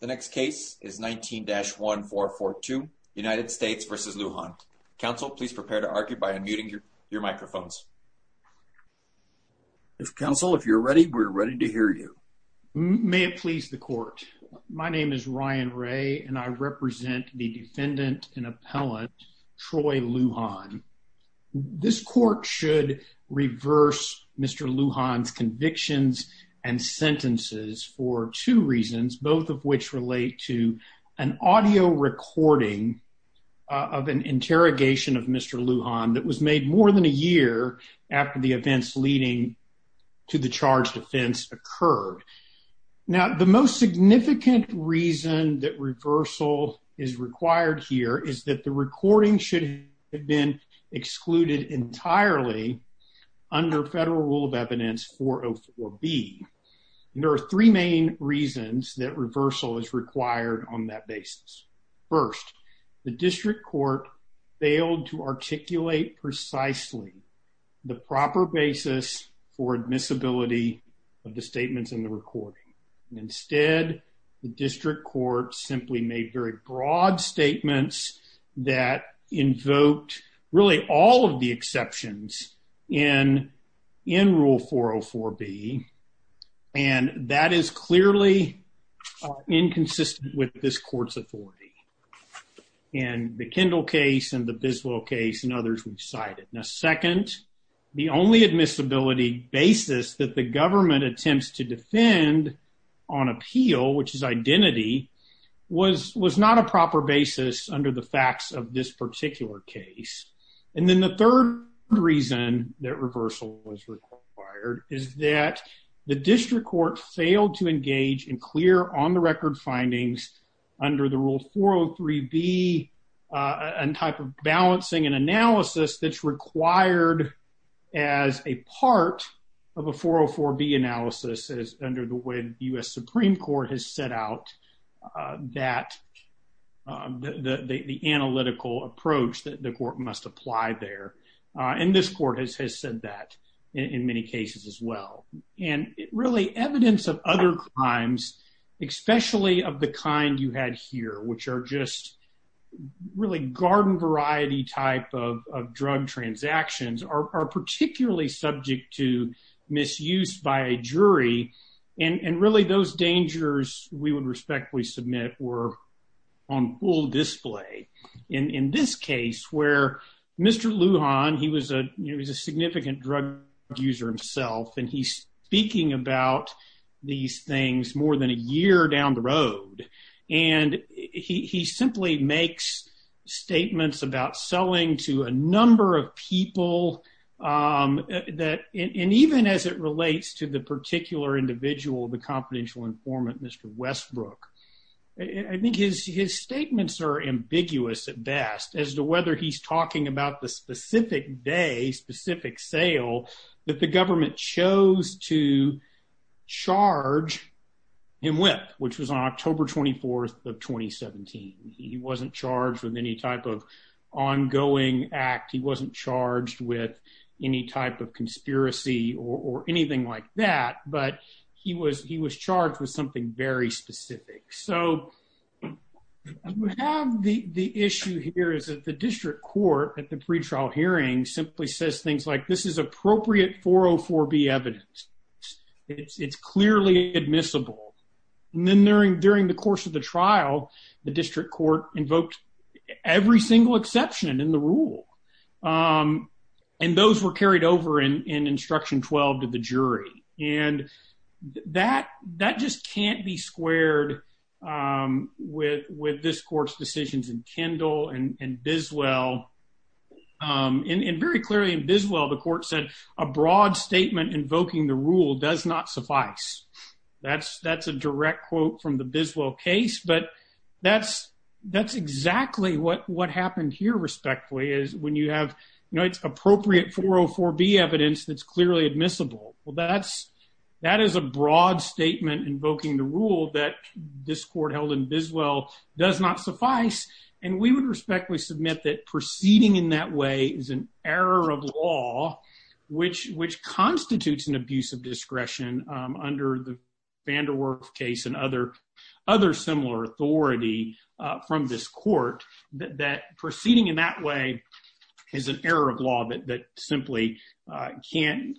The next case is 19-1442, United States v. Lujan. Counsel, please prepare to argue by unmuting your microphones. Counsel, if you're ready, we're ready to hear you. May it please the court. My name is Ryan Ray, and I represent the defendant and appellant, Troy Lujan. This court should reverse Mr. Lujan's convictions and sentences for two reasons, both of which relate to an audio recording of an interrogation of Mr. Lujan that was made more than a year after the events leading to the charged offense occurred. Now, the most significant reason that reversal is required here is that the recording should have been excluded entirely under Federal Rule of Evidence 404B. There are three main reasons that reversal is required on that basis. First, the district court failed to articulate precisely the proper basis for admissibility of the statements in the recording. Instead, the district court simply made very broad statements that invoked really all of the exceptions in Rule 404B, and that is clearly inconsistent with this court's authority. In the Kendall case and the Biswell case and others we've cited. Now, second, the only admissibility basis that the government attempts to defend on appeal, which is identity, was not a proper basis under the facts of this particular case. And then the third reason that reversal was required is that the district court failed to engage in clear on-the-record findings under the Rule 403B and type of balancing and analysis that's required as a part of a 404B analysis as under the way the U.S. Supreme Court has set out that, the analytical approach that the court must apply there. And this court has said that in many cases as well. And really evidence of other crimes, especially of the kind you had here, which are just really garden-variety type of drug transactions, are particularly subject to misuse by a jury. And really those dangers, we would respectfully submit, were on full display. In this case where Mr. Lujan, he was a significant drug user himself, and he's speaking about these things more than a year down the road. And he simply makes statements about selling to a number of people that, and even as it relates to the particular individual, the confidential informant, Mr. Westbrook, I think his statements are ambiguous at best as to whether he's talking about the specific day, the specific sale that the government chose to charge him with, which was on October 24th of 2017. He wasn't charged with any type of ongoing act. He wasn't charged with any type of conspiracy or anything like that. But he was charged with something very specific. So we have the issue here is that the district court at the pretrial hearing simply says things like, this is appropriate 404B evidence. It's clearly admissible. And then during the course of the trial, the district court invoked every single exception in the rule. And those were carried over in Instruction 12 to the jury. And that just can't be squared with this court's decisions in Kendall and Biswell. And very clearly in Biswell, the court said, a broad statement invoking the rule does not suffice. That's a direct quote from the Biswell case. But that's exactly what happened here, respectfully, is when you have, you know, it's appropriate 404B evidence that's clearly admissible. Well, that is a broad statement invoking the rule that this court held in Biswell does not suffice. And we would respectfully submit that proceeding in that way is an error of law, which constitutes an abuse of discretion under the Vanderwerf case and other similar authority from this court, that proceeding in that way is an error of law that simply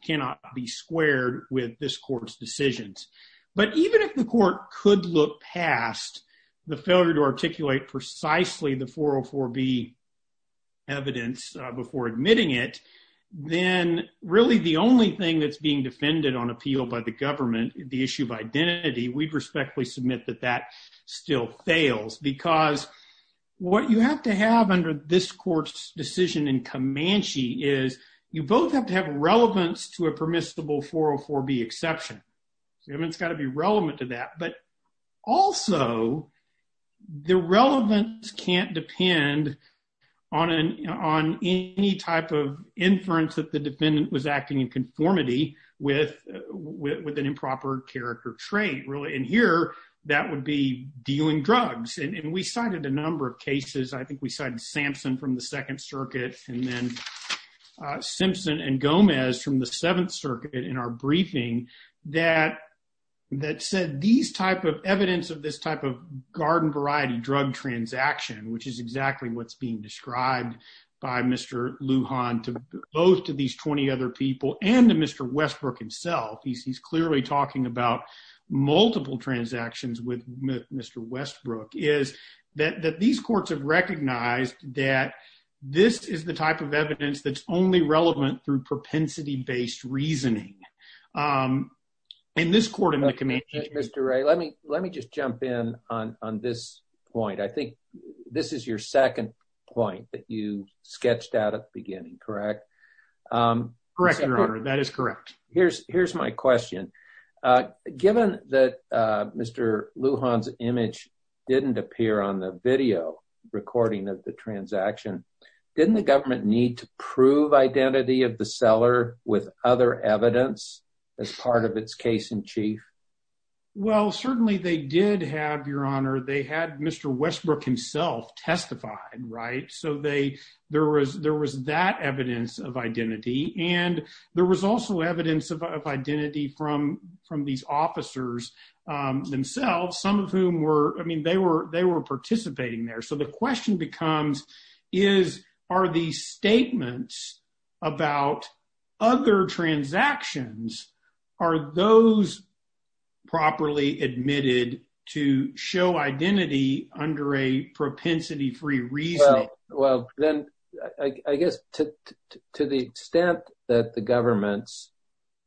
cannot be squared with this court's decisions. But even if the court could look past the failure to articulate precisely the 404B evidence before admitting it, then really the only thing that's being defended on appeal by the government, the issue of identity, we'd respectfully submit that that still fails because what you have to have under this court's decision in Comanche is you both have to have relevance to a permissible 404B exception. It's got to be relevant to that. But also, the relevance can't depend on any type of inference that the defendant was acting in conformity with with an improper character trait, really. And here, that would be dealing drugs. And we cited a number of cases. I think we cited Sampson from the Second Circuit and then Simpson and Gomez from the Seventh Circuit in our briefing that said these type of evidence of this type of garden variety drug transaction, which is exactly what's being described by Mr. Lujan to both of these 20 other people and to Mr. Westbrook himself, he's clearly talking about multiple transactions with Mr. Westbrook, is that these courts have recognized that this is the type of evidence that's only relevant through propensity-based reasoning. In this court in the Comanche… Mr. Wray, let me just jump in on this point. I think this is your second point that you sketched out at the beginning, correct? Correct, Your Honor. That is correct. Here's my question. Given that Mr. Lujan's image didn't appear on the video recording of the transaction, didn't the government need to prove identity of the seller with other evidence as part of its case-in-chief? Well, certainly they did have, Your Honor. They had Mr. Westbrook himself testified, right? So there was that evidence of identity. And there was also evidence of identity from these officers themselves, some of whom were… I mean, they were participating there. So the question becomes, are these statements about other transactions, are those properly admitted to show identity under a propensity-free reasoning? Well, then I guess to the extent that the government's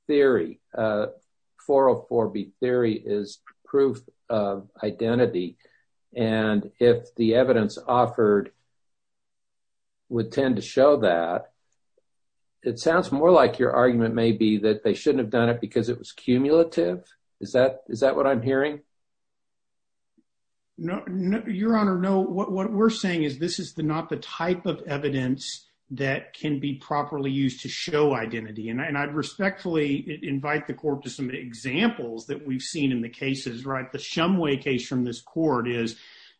theory, 404B theory, is proof of identity, and if the evidence offered would tend to show that, it sounds more like your argument may be that they shouldn't have done it because it was cumulative? Is that what I'm hearing? No, Your Honor, no. What we're saying is this is not the type of evidence that can be properly used to show identity. And I'd respectfully invite the court to some examples that we've seen in the cases, right? The Shumway case from this court is,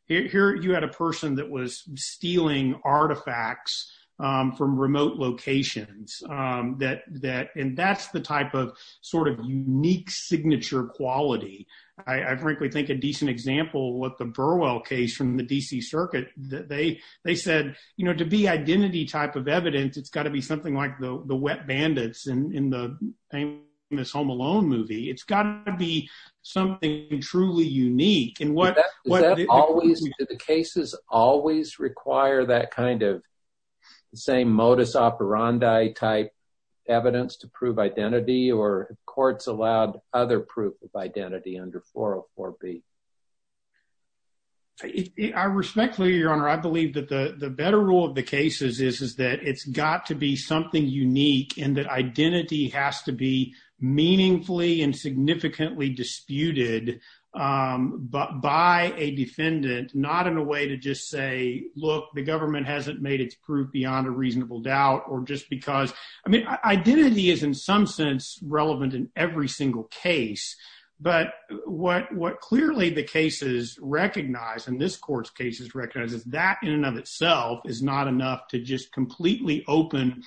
here you had a person that was stealing artifacts from remote locations, and that's the type of sort of unique signature quality. I frankly think a decent example, what the Burwell case from the D.C. Circuit, they said, you know, to be identity type of evidence, it's got to be something like the wet bandits in the famous Home Alone movie. It's got to be something truly unique. Do the cases always require that kind of same modus operandi type evidence to prove identity, or have courts allowed other proof of identity under 404B? I respectfully, Your Honor, I believe that the better rule of the case is that it's got to be something unique and that identity has to be meaningfully and significantly disputed by a defendant, not in a way to just say, look, the government hasn't made its proof beyond a reasonable doubt, or just because, I mean, identity is in some sense relevant in every single case. But what clearly the cases recognize, and this court's cases recognize, is that in and of itself is not enough to just completely open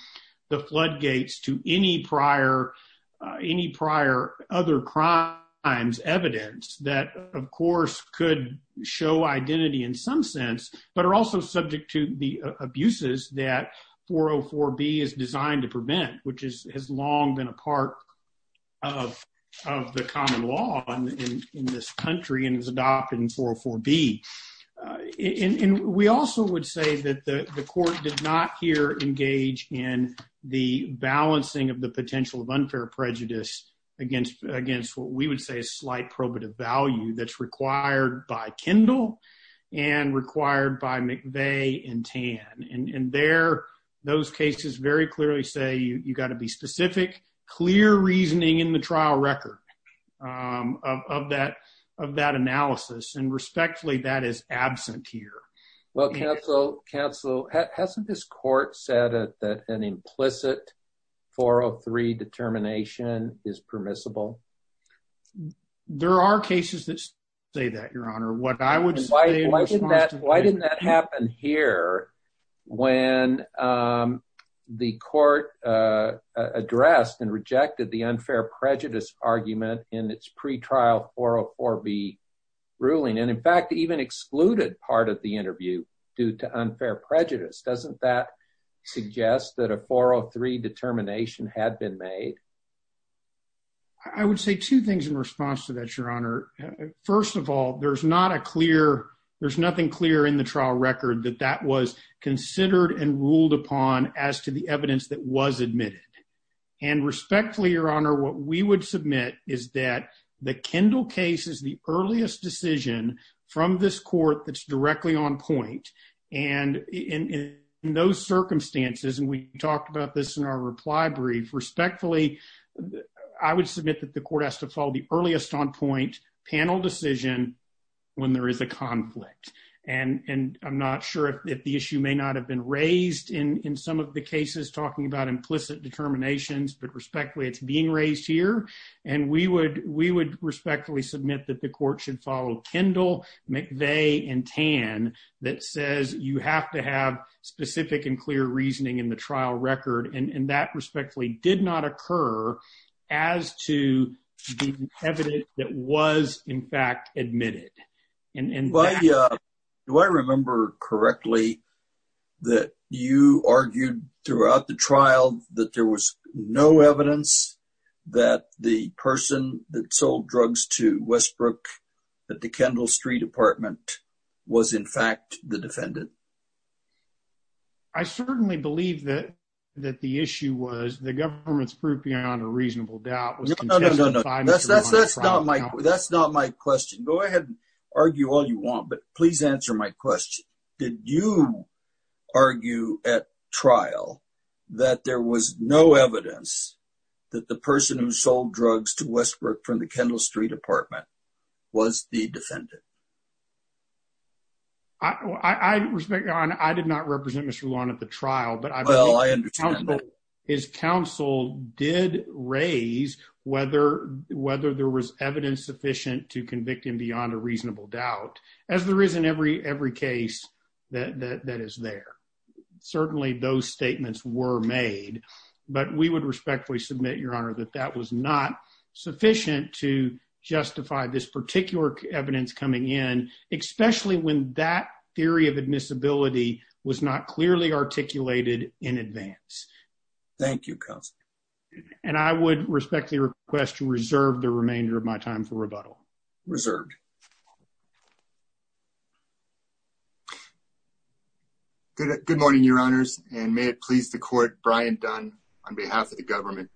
the floodgates to any prior other crimes, evidence that, of course, could show identity in some sense, but are also subject to the abuses that 404B is designed to prevent, which has long been a part of the common law in this country and is adopted in 404B. And we also would say that the court did not here engage in the balancing of the potential of unfair prejudice against what we would say is slight probative value that's required by Kendall and required by McVeigh and Tan. And there, those cases very clearly say you've got to be specific, clear reasoning in the trial record of that analysis. And respectfully, that is absent here. Well, counsel, hasn't this court said that an implicit 403 determination is permissible? There are cases that say that, Your Honor. Why didn't that happen here when the court addressed and rejected the unfair prejudice argument in its pretrial 404B ruling, and in fact, even excluded part of the interview due to unfair prejudice? Doesn't that suggest that a 403 determination had been made? I would say two things in response to that, Your Honor. First of all, there's not a clear, there's nothing clear in the trial record that that was considered and ruled upon as to the evidence that was admitted. And respectfully, Your Honor, what we would submit is that the Kendall case is the earliest decision from this court that's directly on point. And in those circumstances, and we talked about this in our reply brief, respectfully, I would submit that the court has to follow the earliest on point panel decision when there is a conflict. And I'm not sure if the issue may not have been raised in some of the cases talking about implicit determinations, but respectfully, it's being raised here. And we would respectfully submit that the court should follow Kendall, McVeigh, and Tan that says you have to have specific and clear reasoning in the trial record. And that respectfully did not occur as to the evidence that was in fact admitted. Do I remember correctly that you argued throughout the trial that there was no evidence that the person that sold drugs to Westbrook at the Kendall Street apartment was in fact the defendant? I certainly believe that the issue was the government's proof beyond a reasonable doubt. That's not my question. Go ahead and argue all you want. But please answer my question. Did you argue at trial that there was no evidence that the person who sold drugs to Westbrook from the Kendall Street apartment was the defendant? I did not represent Mr. Lawn at the trial, but I believe his counsel did raise whether there was evidence sufficient to convict him beyond a reasonable doubt, as there is in every case that is there. Certainly, those statements were made, but we would respectfully submit, Your Honor, that that was not sufficient to justify this particular evidence coming in, especially when that theory of admissibility was not clearly articulated in advance. Thank you, Counselor. And I would respectfully request to reserve the remainder of my time for rebuttal. Reserved. Good morning, Your Honors, and may it please the court, Brian Dunn, on behalf of the government.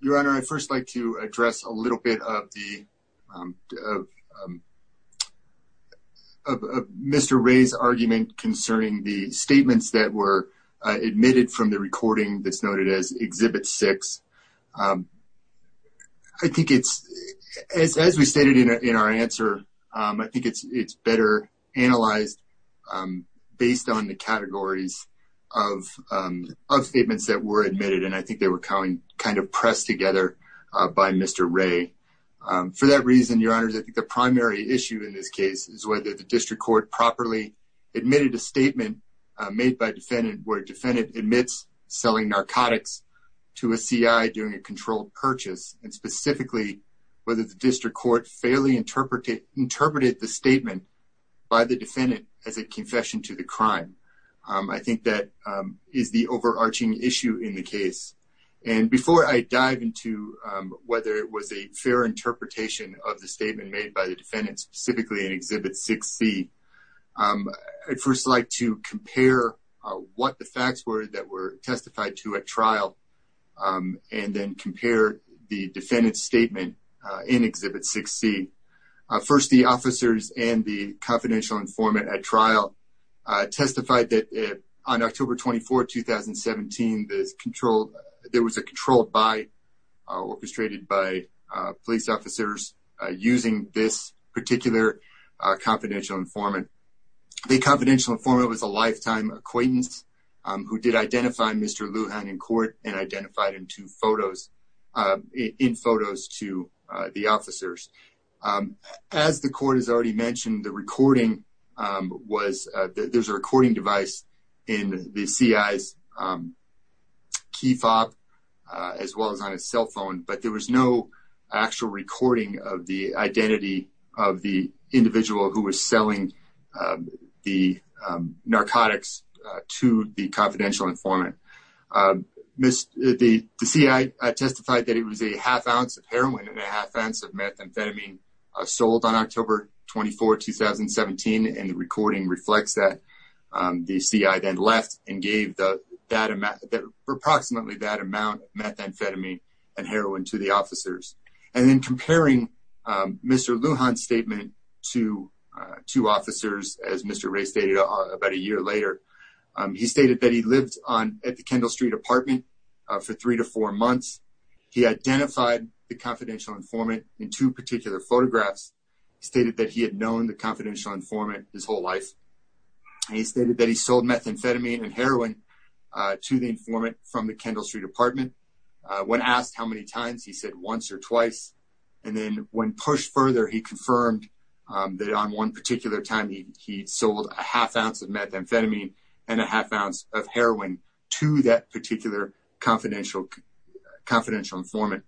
Your Honor, I'd first like to address a little bit of Mr. Ray's argument concerning the statements that were admitted from the recording that's noted as Exhibit 6. I think it's, as we stated in our answer, I think it's better analyzed based on the categories of statements that were admitted, and I think they were kind of pressed together by Mr. Ray. For that reason, Your Honors, I think the primary issue in this case is whether the district court properly admitted a statement made by a defendant where a defendant admits selling narcotics to a C.I. during a controlled purchase, and specifically, whether the district court fairly interpreted the statement by the defendant as a confession to the crime. I think that is the overarching issue in the case. And before I dive into whether it was a fair interpretation of the statement made by the defendant, specifically in Exhibit 6C, I'd first like to compare what the facts were that were testified to at trial, and then compare the defendant's statement in Exhibit 6C. First, the officers and the confidential informant at trial testified that on October 24, 2017, there was a controlled buy orchestrated by police officers using this particular confidential informant. The confidential informant was a lifetime acquaintance who did identify Mr. Lujan in court and identified in photos to the officers. As the court has already mentioned, there's a recording device in the C.I.'s key fob, as well as on his cell phone, but there was no actual recording of the identity of the individual who was selling the narcotics to the confidential informant. The C.I. testified that it was a half ounce of heroin and a half ounce of methamphetamine sold on October 24, 2017, and the recording reflects that. The C.I. then left and gave approximately that amount of methamphetamine and heroin to the officers. And then comparing Mr. Lujan's statement to two officers, as Mr. Ray stated about a year later, he stated that he lived at the Kendall Street apartment for three to four months. He identified the confidential informant in two particular photographs. He stated that he had known the confidential informant his whole life. He stated that he sold methamphetamine and heroin to the informant from the Kendall Street apartment. When asked how many times, he said once or twice. And then when pushed further, he confirmed that on one particular time, he sold a half ounce of methamphetamine and a half ounce of heroin to that particular confidential informant.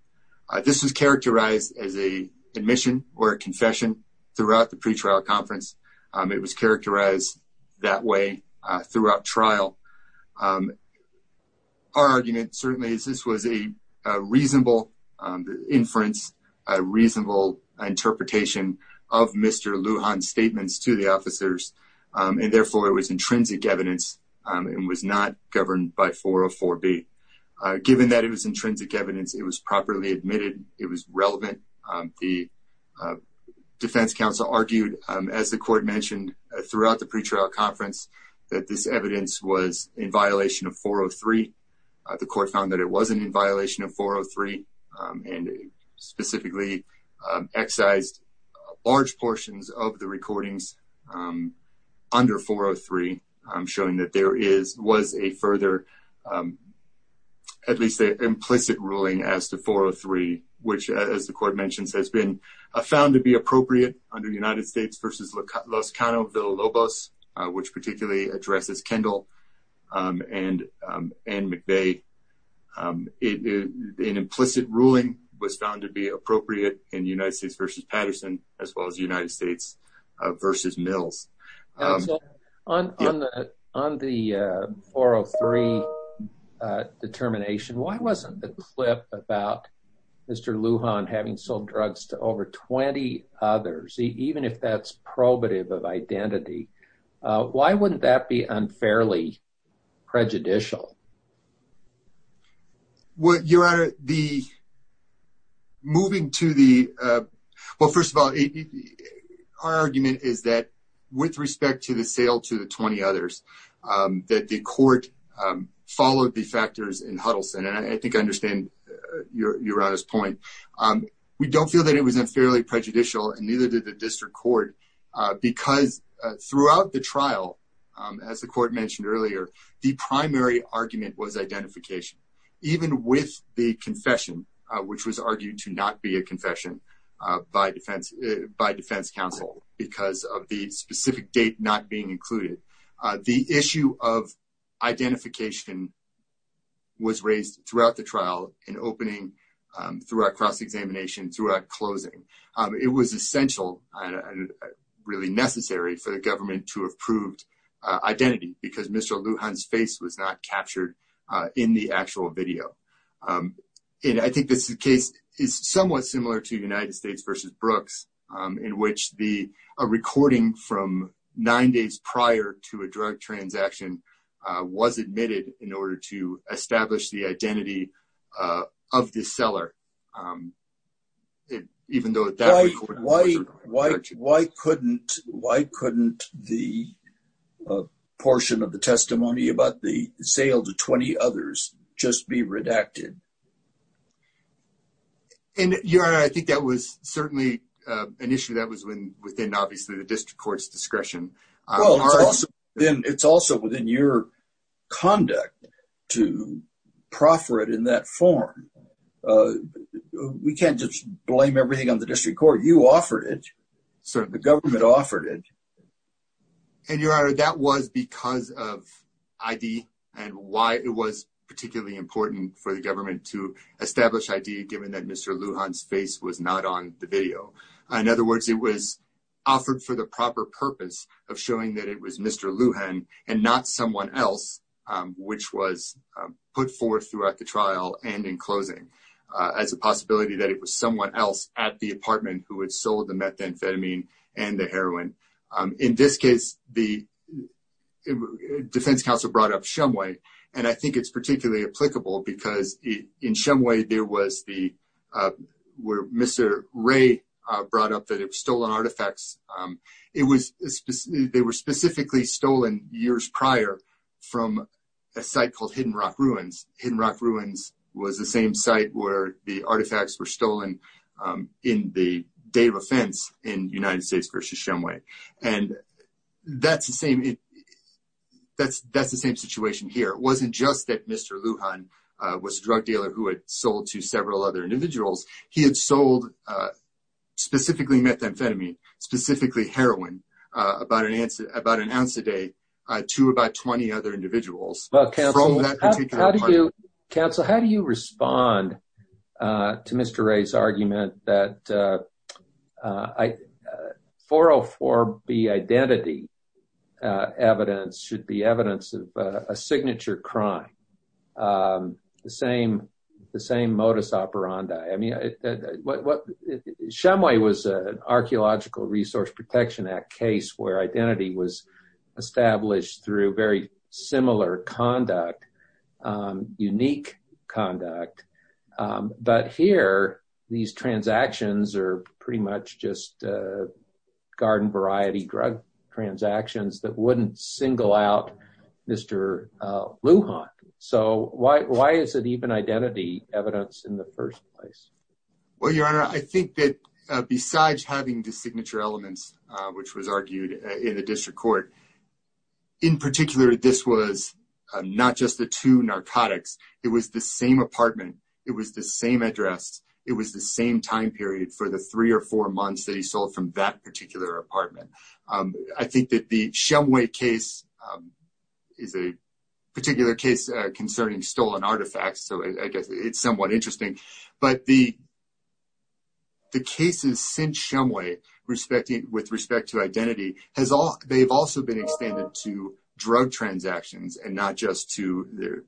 This was characterized as a admission or a confession throughout the pretrial conference. It was characterized that way throughout trial. Our argument certainly is this was a reasonable inference, a reasonable interpretation of Mr. Lujan's statements to the officers, and therefore it was intrinsic evidence and was not governed by 404B. Given that it was intrinsic evidence, it was properly admitted, it was relevant. The defense counsel argued, as the court mentioned throughout the pretrial conference, that this evidence was in violation of 403. The court found that it wasn't in violation of 403 and specifically excised large portions of the recordings under 403, showing that there was a further, at least an implicit ruling as to 403, which, as the court mentioned, has been found to be appropriate under United States v. Los Cano, Villa-Lobos, which particularly addresses Kendall. And McVeigh, an implicit ruling was found to be appropriate in United States v. Patterson, as well as United States v. Mills. On the 403 determination, why wasn't the clip about Mr. Lujan having sold drugs to over 20 others, even if that's probative of identity, why wouldn't that be unfairly prejudicial? Your Honor, moving to the, well, first of all, our argument is that with respect to the sale to the 20 others, that the court followed the factors in Huddleston, and I think I understand Your Honor's point. We don't feel that it was unfairly prejudicial, and neither did the district court, because throughout the trial, as the court mentioned earlier, the primary argument was identification. Even with the confession, which was argued to not be a confession by defense counsel because of the specific date not being included, the issue of identification was raised throughout the trial, in opening, throughout cross-examination, throughout closing. It was essential, really necessary, for the government to have proved identity, because Mr. Lujan's face was not captured in the actual video. And I think this case is somewhat similar to United States v. Brooks, in which a recording from nine days prior to a drug transaction was admitted in order to establish the identity of the seller. Why couldn't the portion of the testimony about the sale to 20 others just be redacted? And Your Honor, I think that was certainly an issue that was within, obviously, the district court's discretion. Well, it's also within your conduct to proffer it in that form. We can't just blame everything on the district court. You offered it. The government offered it. And Your Honor, that was because of ID and why it was particularly important for the government to establish ID, given that Mr. Lujan's face was not on the video. In other words, it was offered for the proper purpose of showing that it was Mr. Lujan and not someone else, which was put forth throughout the trial and in closing, as a possibility that it was someone else at the apartment who had sold the methamphetamine and the heroin. In this case, the defense counsel brought up Shumway, and I think it's particularly applicable because in Shumway, there was the where Mr. Ray brought up that it was stolen artifacts. They were specifically stolen years prior from a site called Hidden Rock Ruins. Hidden Rock Ruins was the same site where the artifacts were stolen in the day of offense in United States versus Shumway. And that's the same situation here. It wasn't just that Mr. Lujan was a drug dealer who had sold to several other individuals. He had sold specifically methamphetamine, specifically heroin, about an ounce a day to about 20 other individuals. Well, counsel, how do you respond to Mr. Ray's argument that 404B identity evidence should be evidence of a signature crime, the same modus operandi? Shumway was an Archaeological Resource Protection Act case where identity was established through very similar conduct, unique conduct. But here, these transactions are pretty much just garden variety drug transactions that wouldn't single out Mr. Lujan. So why is it even identity evidence in the first place? Well, Your Honor, I think that besides having the signature elements, which was argued in the district court, in particular, this was not just the two narcotics. It was the same apartment. It was the same address. It was the same time period for the three or four months that he sold from that particular apartment. I think that the Shumway case is a particular case concerning stolen artifacts. So I guess it's somewhat interesting. But the cases since Shumway with respect to identity, they've also been extended to drug transactions and not just to their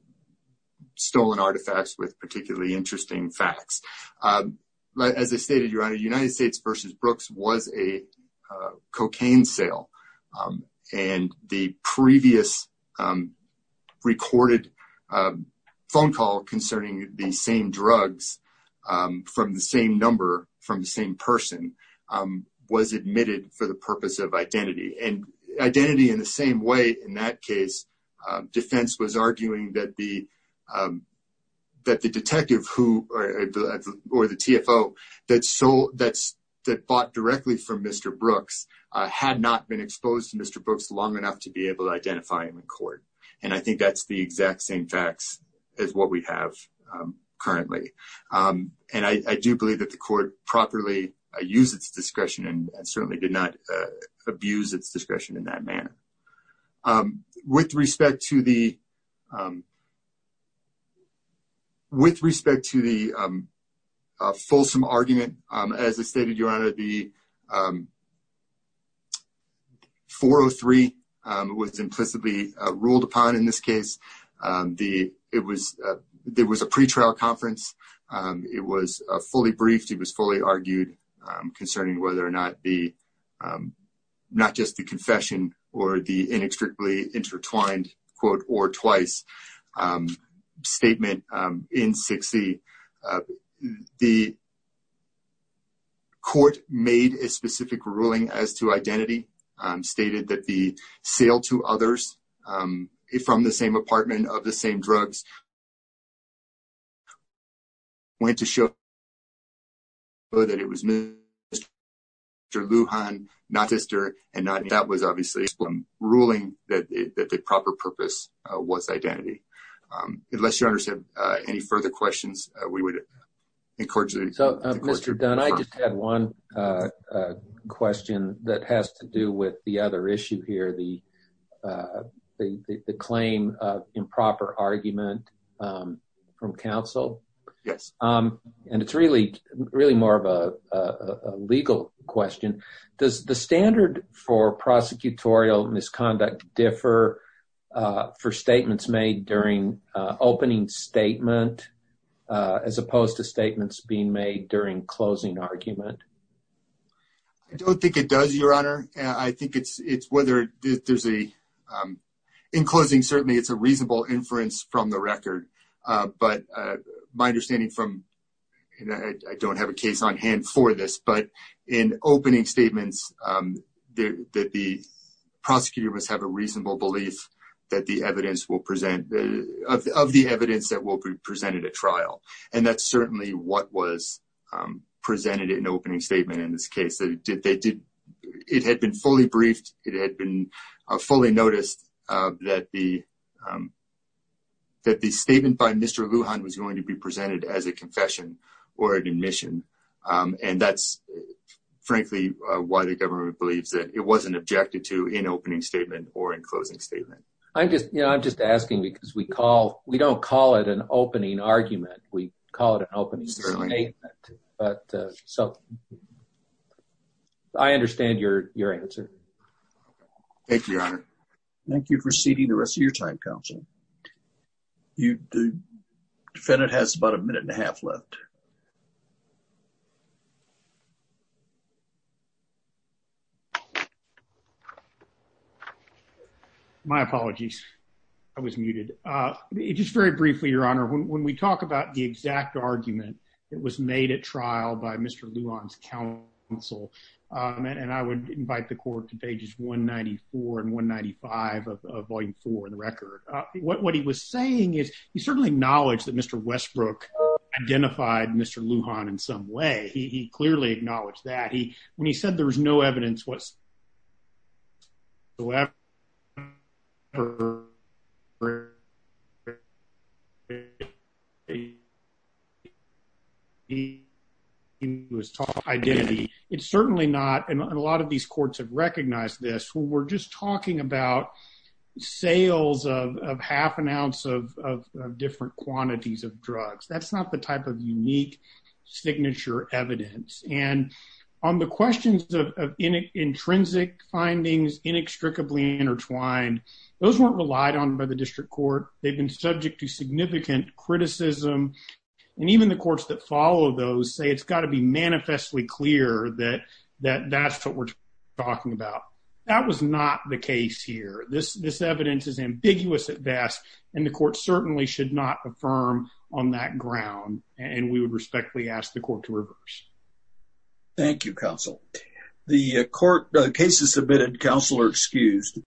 stolen artifacts with particularly interesting facts. As I stated, Your Honor, United States v. Brooks was a cocaine sale. And the previous recorded phone call concerning the same drugs from the same number from the same person was admitted for the purpose of identity. And identity in the same way in that case, defense was arguing that the detective or the TFO that bought directly from Mr. Brooks had not been exposed to Mr. Brooks long enough to be able to identify him in court. And I think that's the exact same facts as what we have currently. And I do believe that the court properly used its discretion and certainly did not abuse its discretion in that manner. It was fully briefed. It was fully argued concerning whether or not the not just the confession or the inextricably intertwined quote or twice statement in 60. The court made a specific ruling as to identity, stated that the sale to others from the same apartment of the same drugs went to show that it was Mr. Lujan, not Esther. And that was obviously a ruling that the proper purpose was identity. Unless you understand any further questions, we would encourage you. So, Mr. Dunn, I just had one question that has to do with the other issue here, the claim of improper argument from counsel. And it's really, really more of a legal question. Does the standard for prosecutorial misconduct differ for statements made during opening statement as opposed to statements being made during closing argument? I don't think it does, Your Honor. I think it's whether there's a in closing. Certainly, it's a reasonable inference from the record. But my understanding from I don't have a case on hand for this, but in opening statements that the prosecutor must have a reasonable belief that the evidence will present of the evidence that will be presented at trial. And that's certainly what was presented in opening statement in this case. It had been fully briefed. It had been fully noticed that the statement by Mr. Lujan was going to be presented as a confession or an admission. And that's, frankly, why the government believes that it wasn't objected to in opening statement or in closing statement. I'm just, you know, I'm just asking because we call, we don't call it an opening argument. We call it an opening statement. But so I understand your answer. Thank you, Your Honor. Thank you for ceding the rest of your time, counsel. The defendant has about a minute and a half left. My apologies. I was muted. Just very briefly, Your Honor, when we talk about the exact argument that was made at trial by Mr. Lujan's counsel, and I would invite the court to pages 194 and 195 of Volume 4 of the record. What he was saying is he certainly acknowledged that Mr. Westbrook identified Mr. Lujan in some way. He clearly acknowledged that. When he said there was no evidence whatsoever, he was talking about identity. It's certainly not. And a lot of these courts have recognized this. We're just talking about sales of half an ounce of different quantities of drugs. That's not the type of unique signature evidence. And on the questions of intrinsic findings, inextricably intertwined, those weren't relied on by the district court. They've been subject to significant criticism. And even the courts that follow those say it's got to be manifestly clear that that's what we're talking about. That was not the case here. This evidence is ambiguous at best, and the court certainly should not affirm on that ground. And we would respectfully ask the court to reverse. Thank you, counsel. The court cases submitted, counsel, are excused.